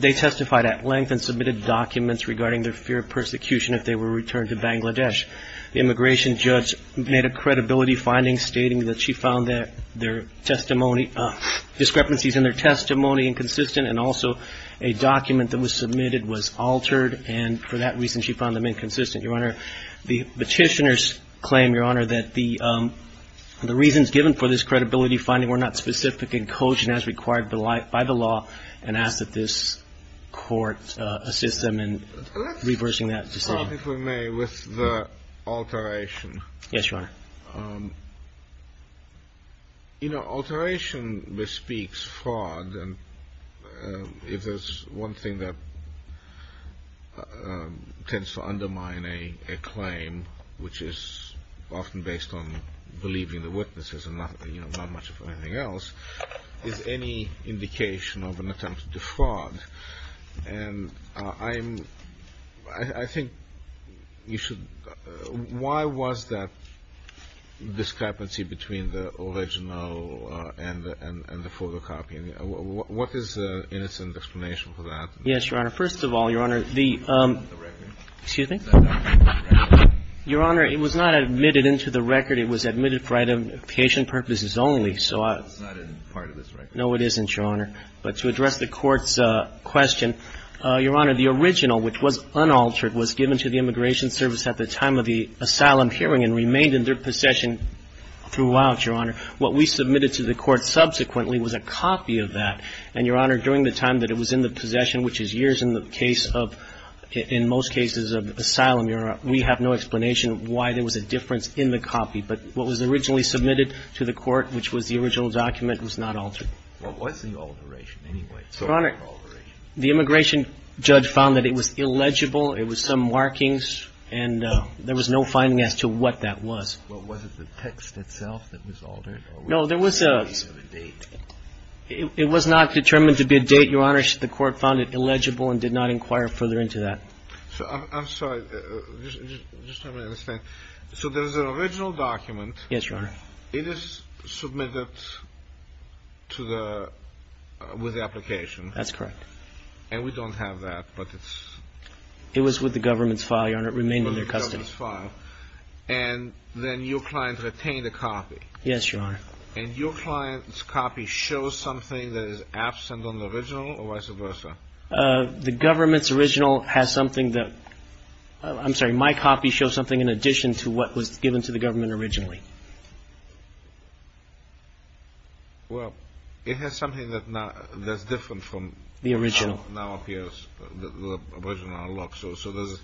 They testified at length and submitted documents regarding their fear of persecution if they were returned to Bangladesh. The immigration judge made a credibility finding stating that she found their discrepancies in their testimony inconsistent, and also a document that was submitted was altered and for that reason she found them inconsistent, Your Honor. The petitioners claim, Your Honor, that the reasons given for this credibility finding were not specific in cogent as required by the law and ask that this Court assist them in reversing that decision. Your Honor, if we may, with the alteration, alteration bespeaks fraud, and if there's one thing that tends to undermine a claim, which is often based on believing the witnesses and not much of anything else, it's any indication of an attempt to defraud, and I'm, I think you should, why was that discrepancy between the original and the photocopying? What is the innocent explanation for that? Yes, Your Honor. First of all, Your Honor, the — It's not in the record. Excuse me? It's not in the record. Your Honor, it was not admitted into the record. It was admitted for identification purposes only, so I — It's not in part of this record. No, it isn't, Your Honor. But to address the Court's question, Your Honor, the original, which was unaltered, was given to the Immigration Service at the time of the asylum hearing and remained in their possession throughout, Your Honor. What we submitted to the Court subsequently was a copy of that, and, Your Honor, during the time that it was in the possession, which is years in the case of — in most cases of asylum, Your Honor, we have no explanation why there was a difference in the copy, but what was originally submitted to the Court, which was the original document, was not altered. What was the alteration, anyway? It's not an alteration. The immigration judge found that it was illegible. It was some markings, and there was no finding as to what that was. Well, was it the text itself that was altered, or was it a date? No, there was a — It was not determined to be a date, Your Honor. The Court found it illegible and did not inquire further into that. So I'm sorry, just so I understand. So there's an original document. Yes, Your Honor. It is submitted to the — with the application. That's correct. And we don't have that, but it's — It was with the government's file, Your Honor. It remained in their custody. With the government's file. And then your client retained a copy. Yes, Your Honor. And your client's copy shows something that is absent on the original, or vice versa? The government's original has something that — I'm sorry, my copy shows something in addition to what was given to the government originally. Well, it has something that now — that's different from — The original. — how it now appears, the original looks. So there's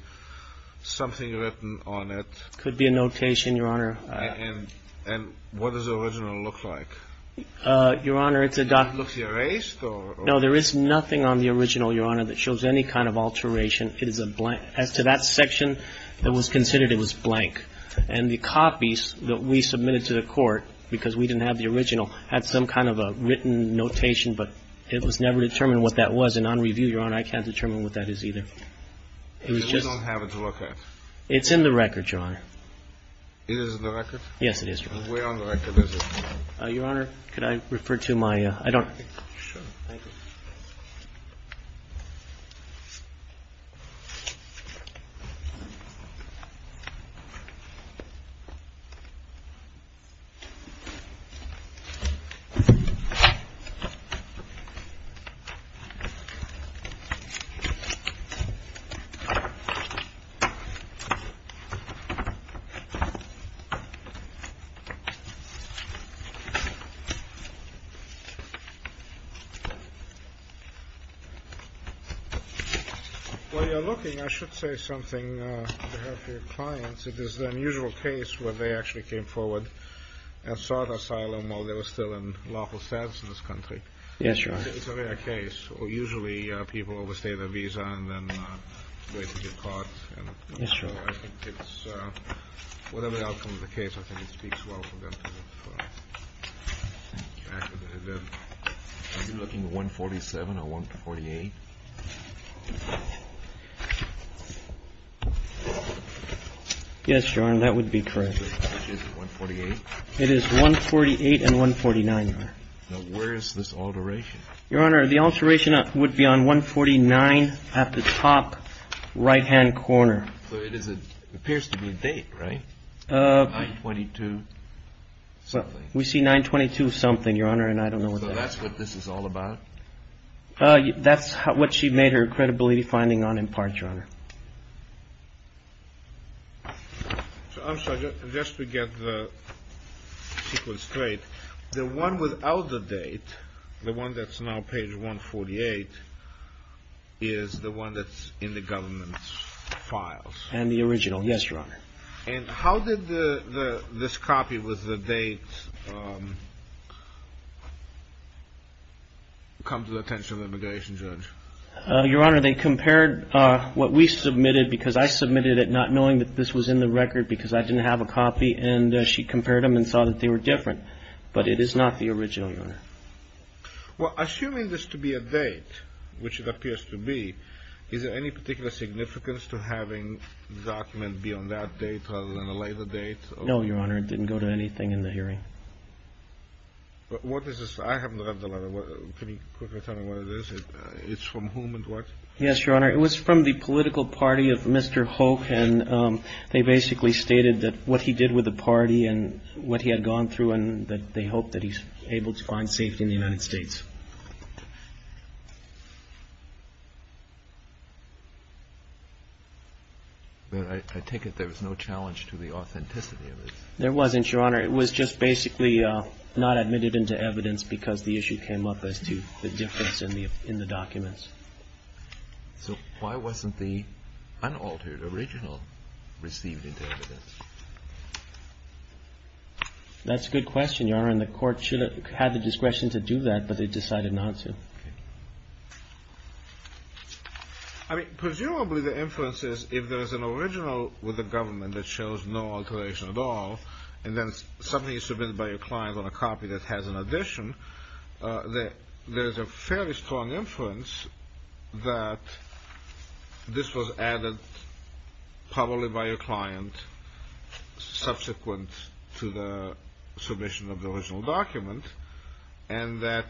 something written on it. Could be a notation, Your Honor. And what does the original look like? Your Honor, it's a — Does it look erased, or — No, there is nothing on the original, Your Honor, that shows any kind of alteration. It is a blank. As to that section, it was considered it was blank. And the copies that we submitted to the court, because we didn't have the original, had some kind of a written notation, but it was never determined what that was. And on review, Your Honor, I can't determine what that is either. It was just — You don't have it to look at? It's in the record, Your Honor. It is in the record? Yes, it is, Your Honor. And where on the record is it? Your Honor, could I refer to my — I don't — Sure. Thank you. While you're looking, I should say something on behalf of your clients. It is the unusual case where they actually came forward and sought asylum while they were still in lawful status in this country. Yes, Your Honor. It's a rare case. Usually, people overstay their visa and then wait to get caught, and — Yes, Your Honor. I think it's — whatever the outcome of the case, I think it speaks well for them to look for the fact that they did. Are you looking at 147 or 148? Yes, Your Honor, that would be correct. Which is it, 148? It is 148 and 149, Your Honor. Now, where is this alteration? Your Honor, the alteration would be on 149 at the top right-hand corner. So it is a — appears to be a date, right? 922-something. So that's what this is all about? That's what she made her credibility finding on in part, Your Honor. So I'm sorry, just to get the sequence straight, the one without the date, the one that's now page 148, is the one that's in the government's files? And the original, yes, Your Honor. And how did this copy with the date come to the attention of the immigration judge? Your Honor, they compared what we submitted, because I submitted it not knowing that this was in the record, because I didn't have a copy. And she compared them and saw that they were different. Well, assuming this to be a date, which it appears to be, is there any particular significance to having the document be on that date rather than a later date? No, Your Honor. It didn't go to anything in the hearing. But what is this? I haven't read the letter. Can you quickly tell me what it is? It's from whom and what? Yes, Your Honor. It was from the political party of Mr. Hoke. And they basically stated that what he did with the party and what he had gone through and that they hope that he's able to find safety in the United States. I take it there was no challenge to the authenticity of it? There wasn't, Your Honor. It was just basically not admitted into evidence because the issue came up as to the difference in the documents. So why wasn't the unaltered original received into evidence? That's a good question, Your Honor. And the court should have had the discretion to do that, but they decided not to. I mean, presumably the inference is if there is an original with the government that shows no alteration at all, and then something is submitted by your client on a copy that has an addition, there's a fairly strong inference that this was added probably by your client subsequent to the submission of the original document and that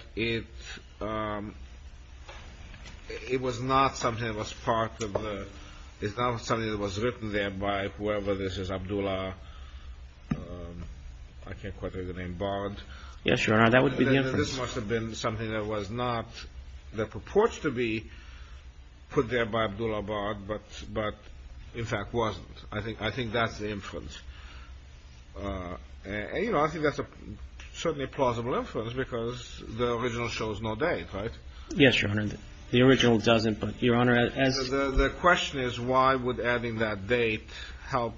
it was not something that was written there by whoever this is, Abdullah, I can't quite remember the name, Bard. Yes, Your Honor, that would be the inference. This must have been something that was not, that purports to be put there by Abdullah Bard, but in fact wasn't. I think that's the inference. And, you know, I think that's certainly a plausible inference because the original shows no date, right? Yes, Your Honor, the original doesn't. But, Your Honor, as the question is, why would adding that date help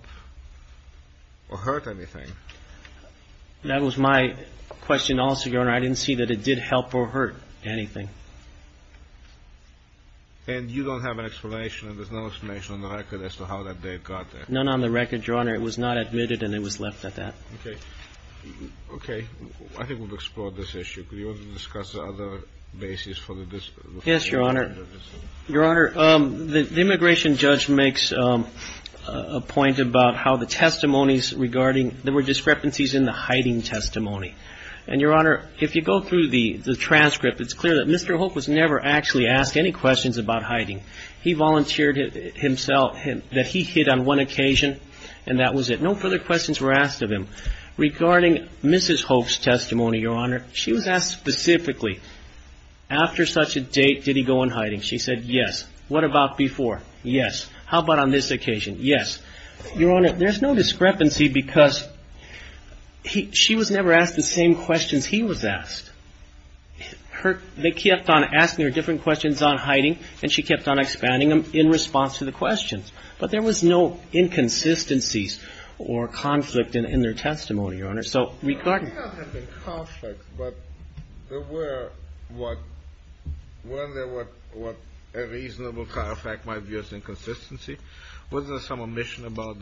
or hurt anything? That was my question also, Your Honor. I didn't see that it did help or hurt anything. And you don't have an explanation, and there's no explanation on the record as to how that date got there? None on the record, Your Honor. It was not admitted, and it was left at that. Okay, I think we've explored this issue. Could you discuss the other basis for the dispute? Yes, Your Honor. Your Honor, the immigration judge makes a point about how the testimonies regarding, there were discrepancies in the hiding testimony. And, Your Honor, if you go through the transcript, it's clear that Mr. Hoek was never actually asked any questions about hiding. He volunteered himself, that he hid on one occasion, and that was it. No further questions were asked of him. Regarding Mrs. Hoek's testimony, Your Honor, she was asked specifically, after such a date, did he go and hide? And she said, yes. What about before? Yes. How about on this occasion? Yes. Your Honor, there's no discrepancy because she was never asked the same questions he was asked. They kept on asking her different questions on hiding, and she kept on expanding them in response to the questions. There may not have been conflicts, but there were what a reasonable fact might be of inconsistency. Was there some omission about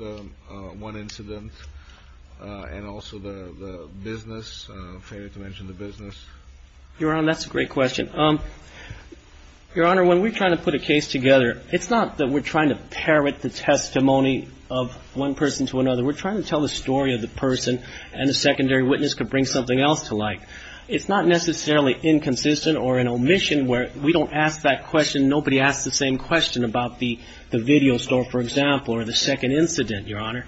one incident, and also the business, failure to mention the business? Your Honor, that's a great question. Your Honor, when we're trying to put a case together, it's not that we're trying to parrot the testimony of one person to another. We're trying to tell the story of the person, and the secondary witness could bring something else to light. It's not necessarily inconsistent or an omission where we don't ask that question. Nobody asks the same question about the video store, for example, or the second incident, Your Honor.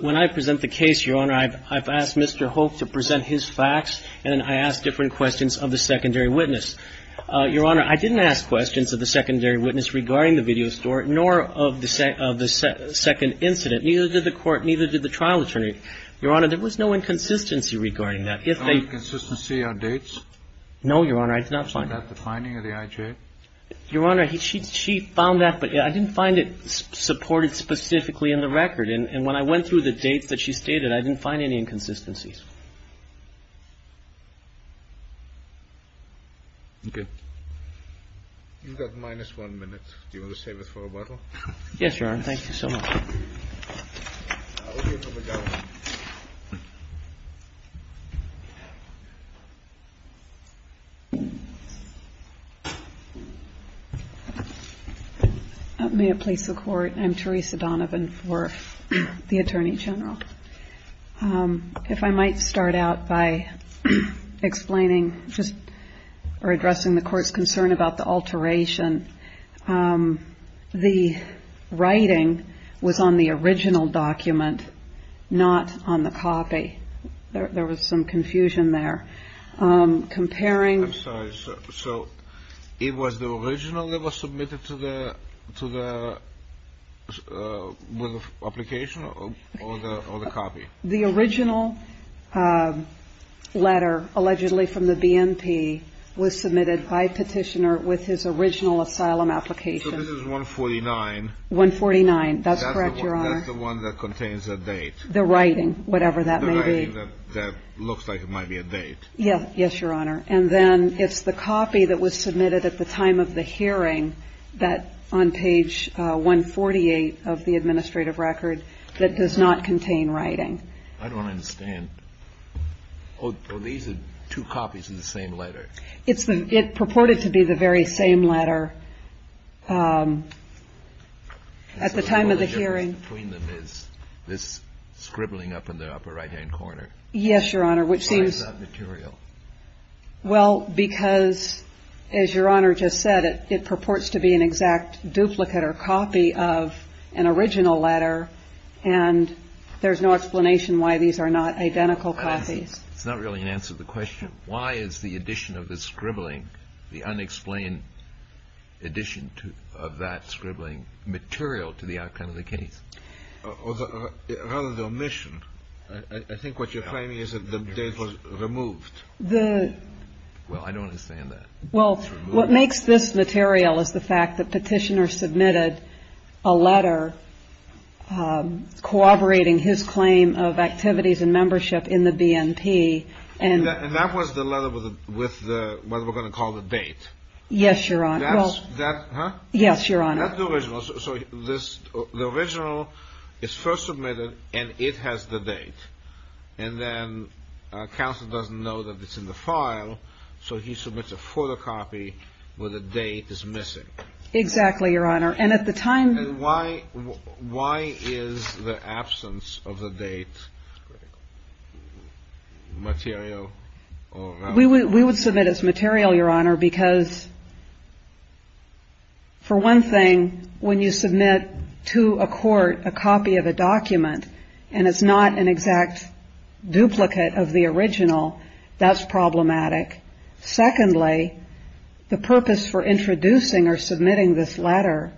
When I present the case, Your Honor, I've asked Mr. Hoek to present his facts, and I ask different questions of the secondary witness. Your Honor, I didn't ask questions of the secondary witness regarding the video store, nor of the second incident. Neither did the court, neither did the trial attorney. Your Honor, there was no inconsistency regarding that. If they ---- No inconsistency on dates? No, Your Honor. I did not find that. Was that the finding of the IJ? Your Honor, she found that, but I didn't find it supported specifically in the record. And when I went through the dates that she stated, I didn't find any inconsistencies. Okay. You've got minus one minute. Do you want to save it for rebuttal? Yes, Your Honor. Thank you so much. I'll hear from the government. May it please the Court, I'm Teresa Donovan for the Attorney General. If I might start out by explaining just or addressing the Court's concern about the alteration. The writing was on the original document, not on the copy. There was some confusion there. Comparing ---- I'm sorry. So it was the original that was submitted to the application or the copy? The original letter allegedly from the BNP was submitted by Petitioner with his original asylum application. So this is 149? 149. That's correct, Your Honor. That's the one that contains the date? The writing, whatever that may be. The writing that looks like it might be a date? Yes, Your Honor. And then it's the copy that was submitted at the time of the hearing that on page 148 of the administrative record that does not contain writing. I don't understand. Oh, these are two copies of the same letter. It purported to be the very same letter at the time of the hearing. So the only difference between them is this scribbling up in the upper right-hand corner. Yes, Your Honor, which seems ---- Why is that material? Well, because, as Your Honor just said, it purports to be an exact duplicate or copy of an original letter. And there's no explanation why these are not identical copies. It's not really an answer to the question. Why is the addition of the scribbling, the unexplained addition of that scribbling material to the outcome of the case? Rather the omission. I think what you're claiming is that the date was removed. The ---- Well, I don't understand that. Well, what makes this material is the fact that Petitioner submitted a letter corroborating his claim of activities and membership in the BNP. And that was the letter with what we're going to call the date. Yes, Your Honor. That's the original. So the original is first submitted and it has the date. And then counsel doesn't know that it's in the file. So he submits a photocopy where the date is missing. Exactly, Your Honor. And at the time ---- And why is the absence of the date material or not? We would submit as material, Your Honor, because for one thing, when you submit to a court a copy of a document and it's not an exact duplicate of the original, that's problematic. Secondly, the purpose for introducing or submitting this letter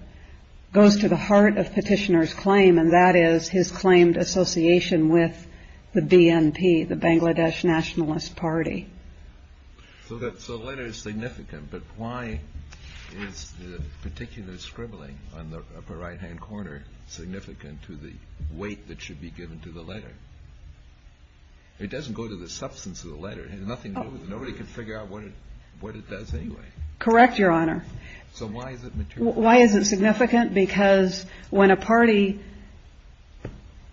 goes to the heart of Petitioner's claim. And that is his claimed association with the BNP, the Bangladesh Nationalist Party. So that's a letter is significant. But why is the particular scribbling on the upper right hand corner significant to the weight that should be given to the letter? It doesn't go to the substance of the letter. Nothing goes. Nobody can figure out what it does anyway. Correct, Your Honor. So why is it material? Why is it significant? Because when a party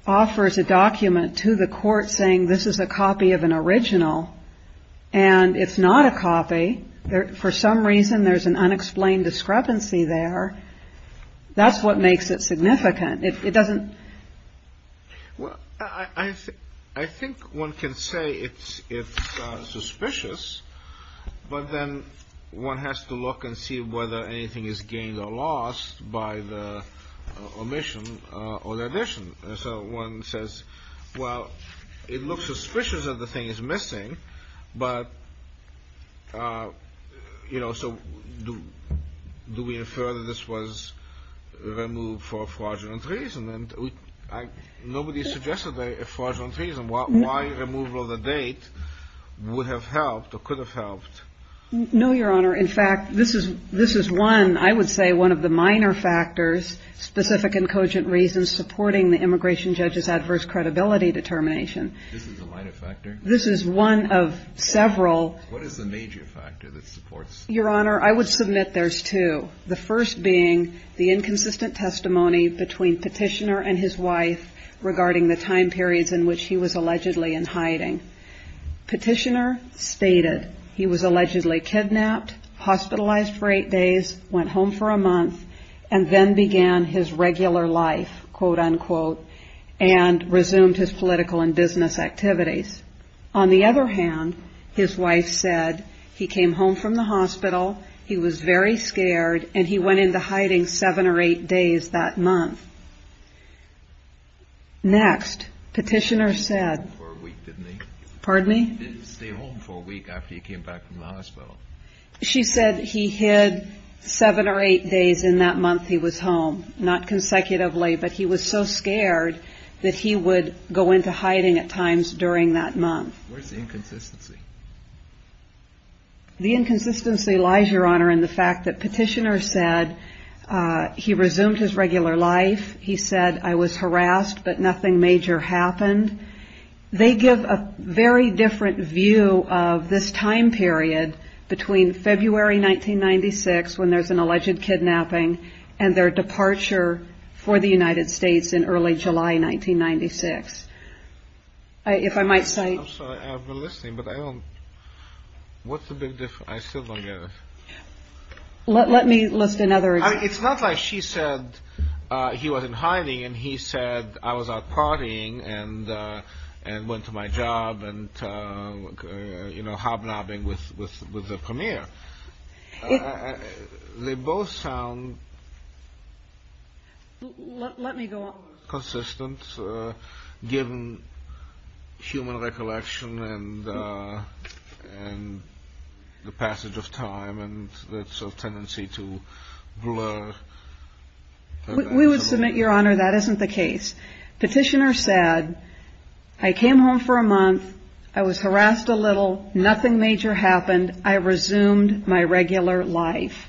offers a document to the court saying this is a copy of an original and it's not a copy, for some reason there's an unexplained discrepancy there, that's what makes it significant. It doesn't. Well, I think one can say it's suspicious, but then one has to look and see whether anything is gained or lost by the omission or the addition. So one says, well, it looks suspicious that the thing is missing. But, you know, so do we infer that this was removed for fraudulent reason? And nobody suggested a fraudulent reason. Why removal of the date would have helped or could have helped? No, Your Honor. In fact, this is one, I would say, one of the minor factors, specific and cogent reasons supporting the immigration judge's adverse credibility determination. This is a minor factor? This is one of several. What is the major factor that supports? Your Honor, I would submit there's two. The first being the inconsistent testimony between Petitioner and his wife regarding the time periods in which he was allegedly in hiding. Petitioner stated he was allegedly kidnapped, hospitalized for eight days, went home for a month, and then began his regular life, quote unquote, and resumed his political and business activities. On the other hand, his wife said he came home from the hospital. He was very scared, and he went into hiding seven or eight days that month. Next, Petitioner said, pardon me? He didn't stay home for a week after he came back from the hospital. She said he hid seven or eight days in that month he was home. Not consecutively, but he was so scared that he would go into hiding at times during that month. Where's the inconsistency? The inconsistency lies, Your Honor, in the fact that Petitioner said he resumed his regular life. He said, I was harassed, but nothing major happened. They give a very different view of this time period between February 1996, when there's an alleged kidnapping, and their departure for the United States in early July 1996. If I might say. I'm sorry, I've been listening, but I don't. What's the big difference? I still don't get it. Let me list another. It's not like she said he was in hiding, and he said, I was out partying and went to my job and hobnobbing with the premier. They both sound. Let me go on. Consistent, given human recollection and the passage of time, and that sort of tendency to blur. We would submit, Your Honor, that isn't the case. Petitioner said, I came home for a month. I was harassed a little. Nothing major happened. I resumed my regular life.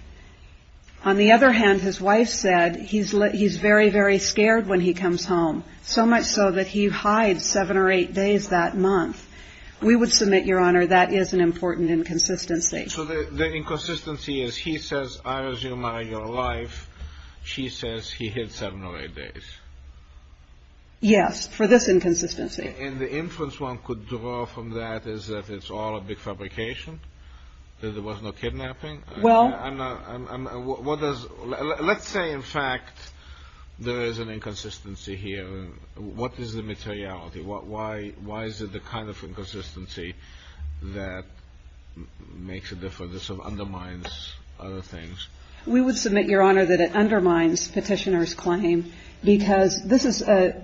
On the other hand, his wife said he's he's very, very scared when he comes home, so much so that he hides seven or eight days that month. We would submit, Your Honor, that is an important inconsistency. So the inconsistency is he says, I resume my life. She says he hid seven or eight days. Yes, for this inconsistency, and the influence one could draw from that is that it's all a big fabrication, that there was no kidnapping. Well, what does let's say, in fact, there is an inconsistency here. What is the materiality? What? Why? Why is it the kind of inconsistency that makes a difference of undermines other things? We would submit, Your Honor, that it undermines petitioner's claim because this is a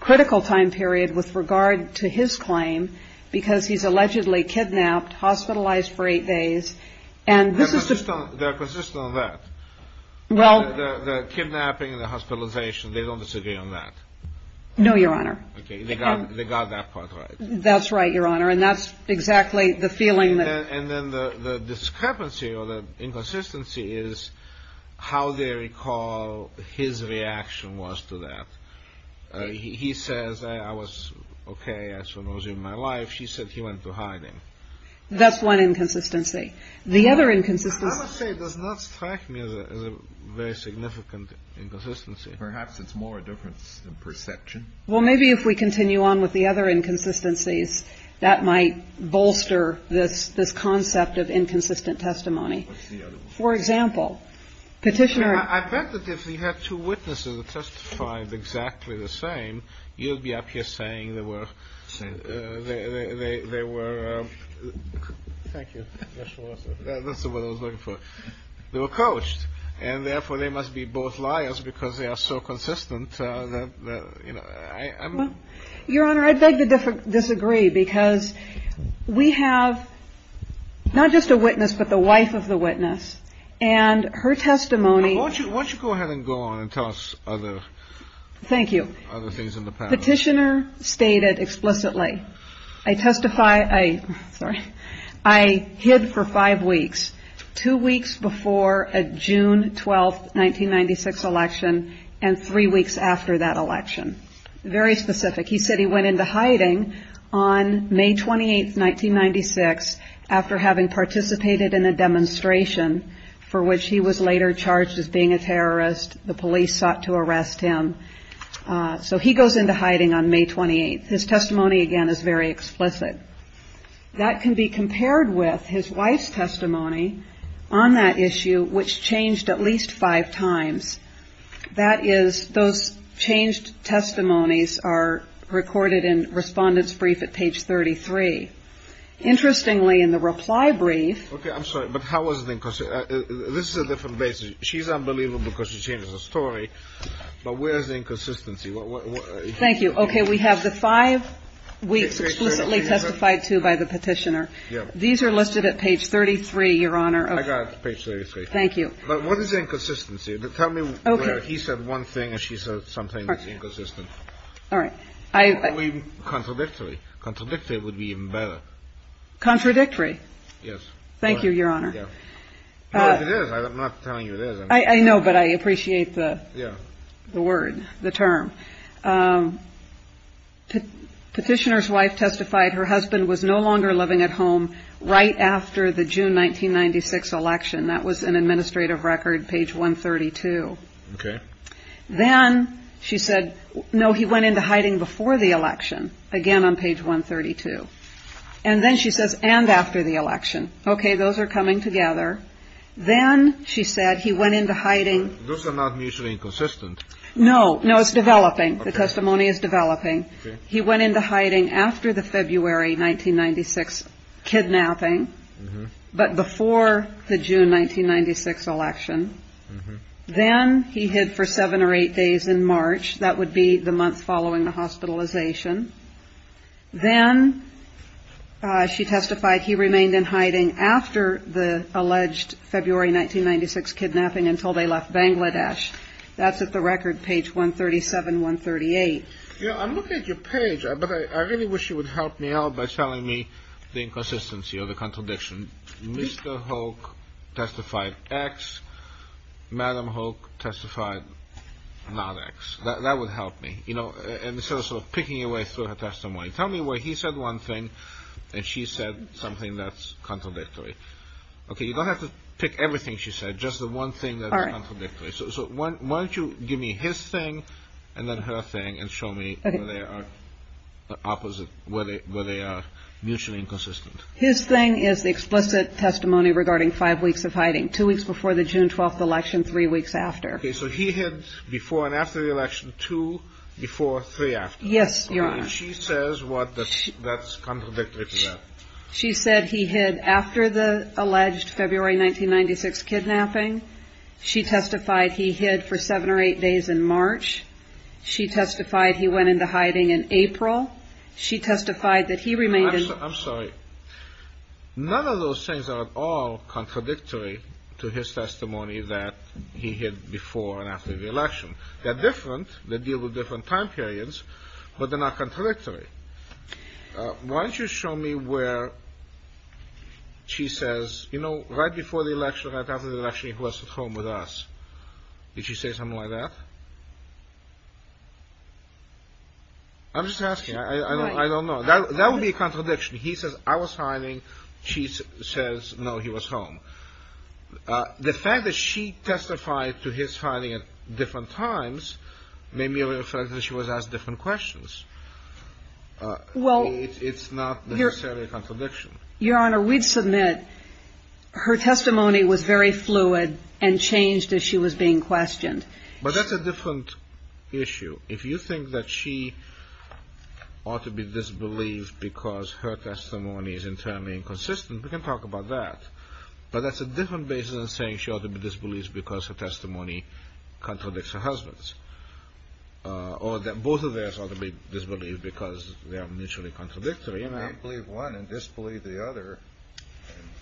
critical time period with regard to his claim because he's allegedly kidnapped, hospitalized for eight days. And this is the system that persists on that. Well, the kidnapping and the hospitalization, they don't disagree on that. No, Your Honor. Okay. They got that part right. That's right, Your Honor. And that's exactly the feeling. And then the discrepancy or the inconsistency is how they recall his reaction was to that. He says, I was okay. I was in my life. She said he went to hiding. That's one inconsistency. The other inconsistency does not strike me as a very significant inconsistency. Perhaps it's more a difference in perception. Well, maybe if we continue on with the other inconsistencies that might bolster this this concept of inconsistent testimony. For example, petitioner, I bet that if we had two witnesses that testified exactly the same, you'd be up here saying they were saying they were. Thank you. That's what I was looking for. They were coached and therefore they must be both liars because they are so consistent. Your Honor, I beg to disagree because we have not just a witness, but the wife of the witness and her testimony. Why don't you go ahead and go on and tell us other. Thank you. Other things in the petitioner stated explicitly. I testify, I hid for five weeks, two weeks before a June 12th, 1996 election and three weeks after that election. Very specific. He said he went into hiding on May 28th, 1996 after having participated in a demonstration for which he was later charged as being a terrorist. The police sought to arrest him. So he goes into hiding on May 28th. His testimony, again, is very explicit. That can be compared with his wife's testimony on that issue, which changed at least five times. That is those changed. Testimonies are recorded in respondents brief at page 33. Interestingly, in the reply brief. OK, I'm sorry, but how was the question? This is a different basis. She's unbelievable because she changed the story. But where's the inconsistency? Thank you. OK, we have the five weeks explicitly testified to by the petitioner. These are listed at page 33, Your Honor. I got page 33. Thank you. But what is inconsistency? Tell me where he said one thing and she said something inconsistent. All right. I mean, contradictory. Contradictory would be even better. Contradictory. Yes. Thank you, Your Honor. It is. I'm not telling you this. I know, but I appreciate the word, the term. The petitioner's wife testified her husband was no longer living at home right after the June 1996 election. That was an administrative record. Page 132. OK. Then she said, no, he went into hiding before the election. Again, on page 132. And then she says, and after the election. OK, those are coming together. Then she said he went into hiding. Those are not mutually inconsistent. No, no, it's developing. The testimony is developing. He went into hiding after the February 1996 kidnapping, but before the June 1996 election. Then he hid for seven or eight days in March. That would be the month following the hospitalization. Then she testified he remained in hiding after the alleged February 1996 kidnapping until they left Bangladesh. That's at the record, page 137, 138. You know, I'm looking at your page, but I really wish you would help me out by telling me the inconsistency or the contradiction. Mr. Hoke testified X. Madam Hoke testified not X. That would help me. You know, and so sort of picking your way through her testimony. Tell me where he said one thing and she said something that's contradictory. OK, you don't have to pick everything she said, just the one thing that's contradictory. So why don't you give me his thing and then her thing and show me where they are opposite, where they are mutually inconsistent. His thing is the explicit testimony regarding five weeks of hiding two weeks before the June 12th election, three weeks after. So he hid before and after the election, two before, three after. Yes, Your Honor. She says what that's contradictory to that. She said he hid after the alleged February 1996 kidnapping. She testified he hid for seven or eight days in March. She testified he went into hiding in April. She testified that he remained. I'm sorry. None of those things are at all contradictory to his testimony that he hid before and after the election. They're different. They deal with different time periods, but they're not contradictory. Why don't you show me where she says, you know, right before the election, right after the election, he was at home with us. Did she say something like that? I'm just asking. I don't know. That would be a contradiction. He says I was hiding. She says, no, he was home. The fact that she testified to his finding at different times made me reflect that she was asked different questions. Well, it's not necessarily a contradiction. Your Honor, we'd submit her testimony was very fluid and changed as she was being questioned. But that's a different issue. If you think that she ought to be disbelieved because her testimony is entirely inconsistent, we can talk about that. But that's a different basis in saying she ought to be disbelieved because her testimony contradicts her husband's. Or that both of us ought to be disbelieved because they are mutually contradictory. You may believe one and disbelieve the other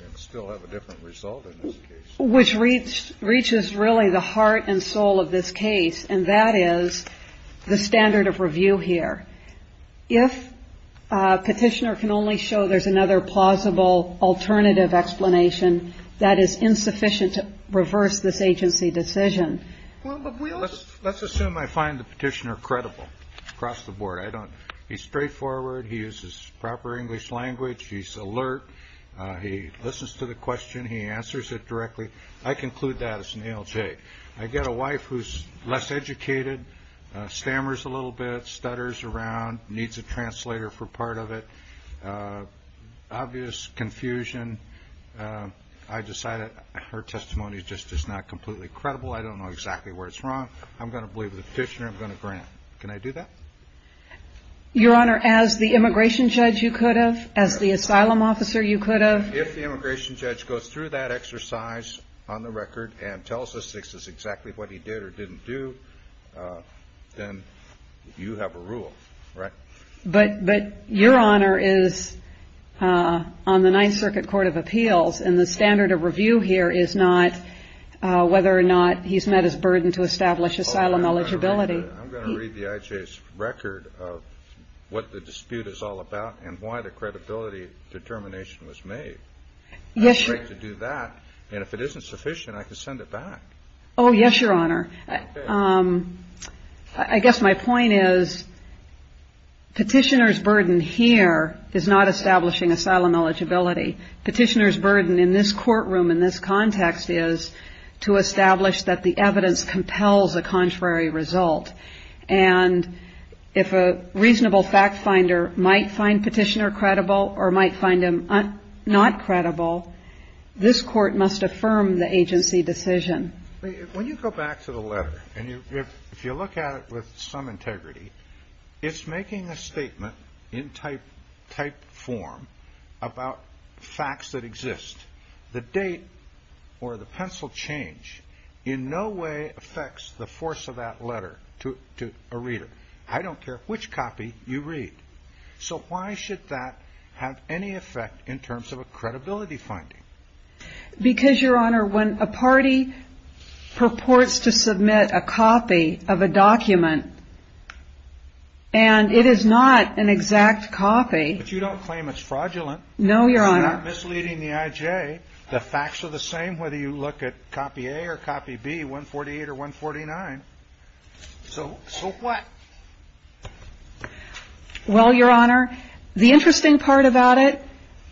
and still have a different result in this case. Which reaches really the heart and soul of this case. And that is the standard of review here. If a petitioner can only show there's another plausible alternative explanation, that is insufficient to reverse this agency decision. Well, let's assume I find the petitioner credible across the board. I don't. He's straightforward. He uses proper English language. He's alert. He listens to the question. He answers it directly. I conclude that as an ALJ. I get a wife who's less educated, stammers a little bit, stutters around, needs a translator for part of it. Obvious confusion. I decided her testimony just is not completely credible. I don't know exactly where it's from. I'm going to believe the petitioner. I'm going to grant. Can I do that? Your Honor, as the immigration judge, you could have as the asylum officer. You could have. If the immigration judge goes through that exercise on the record and tells us this is exactly what he did or didn't do, then you have a rule. Right. But but your honor is on the Ninth Circuit Court of Appeals. And the standard of review here is not whether or not he's met his burden to establish asylum eligibility. I'm going to read the IJ's record of what the dispute is all about and why the credibility determination was made. Yes, you do that. And if it isn't sufficient, I can send it back. Oh, yes, your honor. I guess my point is. Petitioner's burden here is not establishing asylum eligibility. Petitioner's burden in this courtroom in this context is to establish that the evidence compels a contrary result. And if a reasonable fact finder might find petitioner credible or might find him not credible, this court must affirm the agency decision. When you go back to the letter and if you look at it with some integrity, it's making a statement in type type form about facts that exist. The date or the pencil change in no way affects the force of that letter to a reader. I don't care which copy you read. So why should that have any effect in terms of a credibility finding? Because, your honor, when a party purports to submit a copy of a document. And it is not an exact copy, but you don't claim it's fraudulent. No, your honor. Misleading the IJ. The facts are the same whether you look at copy A or copy B, 148 or 149. So what? Well, your honor, the interesting part about it.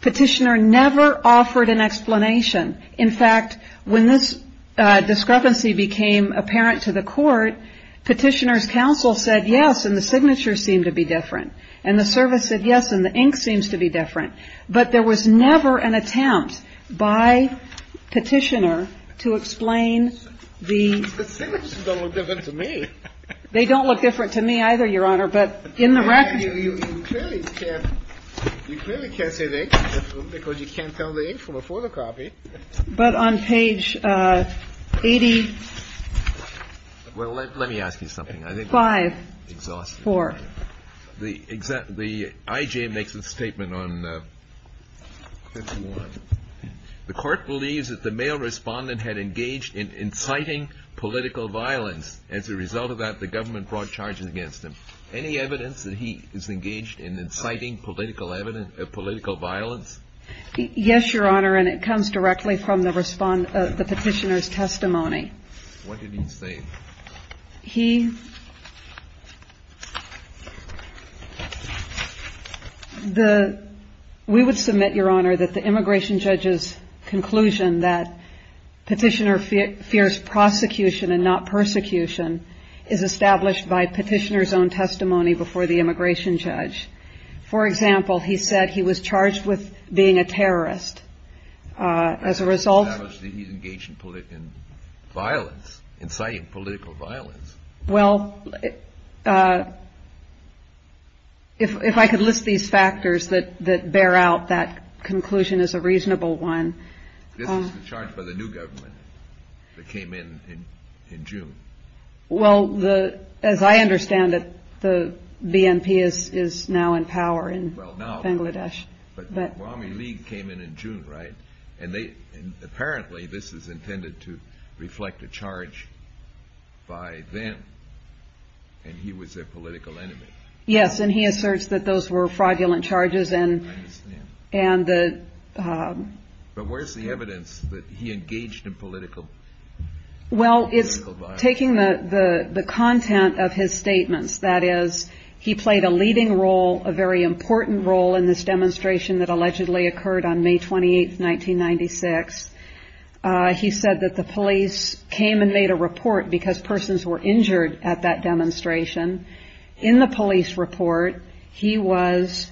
Petitioner never offered an explanation. In fact, when this discrepancy became apparent to the court, Petitioner's counsel said yes. And the signature seemed to be different. And the service said yes. And the ink seems to be different. But there was never an attempt by Petitioner to explain the. They don't look different to me either, your honor. But in the record. You clearly can't say the ink is different because you can't tell the ink from a photocopy. But on page 80. Well, let me ask you something. I think. Five. Exhausting. Four. The IJ makes a statement on 51. The court believes that the male respondent had engaged in inciting political violence. As a result of that, the government brought charges against him. Any evidence that he is engaged in inciting political evidence of political violence? Yes, your honor. And it comes directly from the respondent, the petitioner's testimony. What did he say? He. The we would submit, your honor, that the immigration judge's conclusion that petitioner fears prosecution and not persecution is established by petitioner's own testimony before the immigration judge. For example, he said he was charged with being a terrorist. As a result, he's engaged in political violence, inciting political violence. Well, if I could list these factors that that bear out, that conclusion is a reasonable one. This is charged by the new government that came in in June. Well, the as I understand it, the BNP is is now in power in Bangladesh. But the army league came in in June. Right. And they apparently this is intended to reflect a charge by them. And he was a political enemy. Yes. And he asserts that those were fraudulent charges and. And the. But where's the evidence that he engaged in political. Well, it's taking the content of his statements, that is, he played a leading role, a very important role in this demonstration that allegedly occurred on May 28th, 1996. He said that the police came and made a report because persons were injured at that demonstration in the police report. He was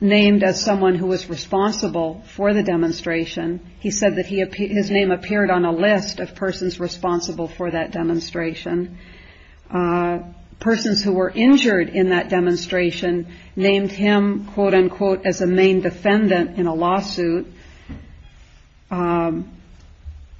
named as someone who was responsible for the demonstration. He said that his name appeared on a list of persons responsible for that demonstration. Persons who were injured in that demonstration named him, quote unquote, as a main defendant in a lawsuit.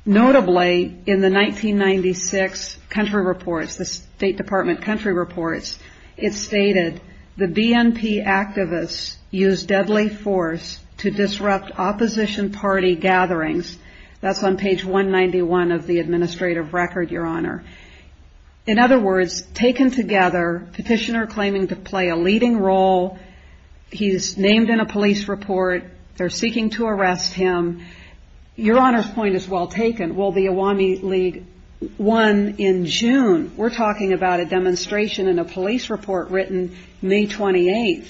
Notably, in the 1996 country reports, the State Department country reports, it stated the BNP activists used deadly force to disrupt opposition party gatherings. That's on page 191 of the administrative record, Your Honor. In other words, taken together, petitioner claiming to play a leading role. He's named in a police report. They're seeking to arrest him. Your Honor's point is well taken. Will the army lead one in June? We're talking about a demonstration in a police report written May 28th,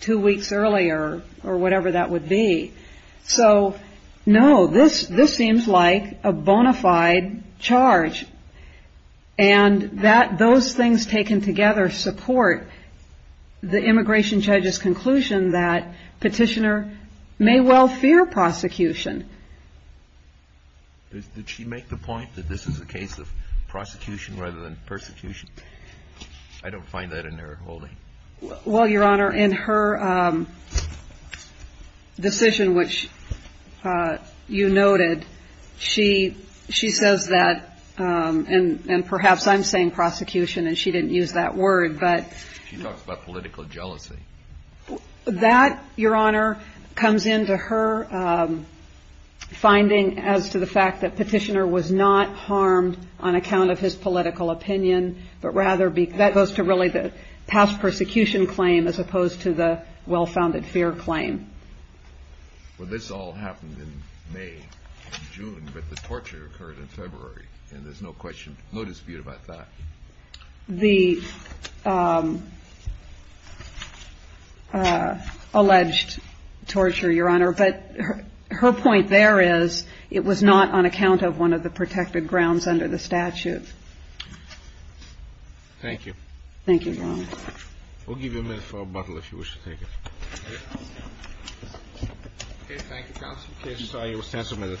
two weeks earlier or whatever that would be. So, no, this seems like a bona fide charge. And that those things taken together support the immigration judge's conclusion that petitioner may well fear prosecution. Did she make the point that this is a case of prosecution rather than persecution? I don't find that in her holding. Well, Your Honor, in her decision, which you noted, she she says that and perhaps I'm saying prosecution and she didn't use that word. But she talks about political jealousy that Your Honor comes into her finding as to the fact that petitioner was not harmed on account of his persecution claim as opposed to the well-founded fear claim. Well, this all happened in May, June, but the torture occurred in February and there's no question, no dispute about that. The alleged torture, Your Honor. But her point there is it was not on account of one of the protected grounds under the statute. Thank you. Thank you. We'll give you a minute for a bottle if you wish to take it. OK, thank you, counsel. Case is signed. You will stand for a minute.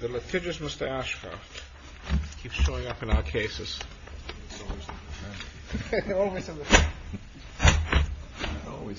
The litigious Mr. Ashcroft keeps showing up in our cases. However, he always had to think I get.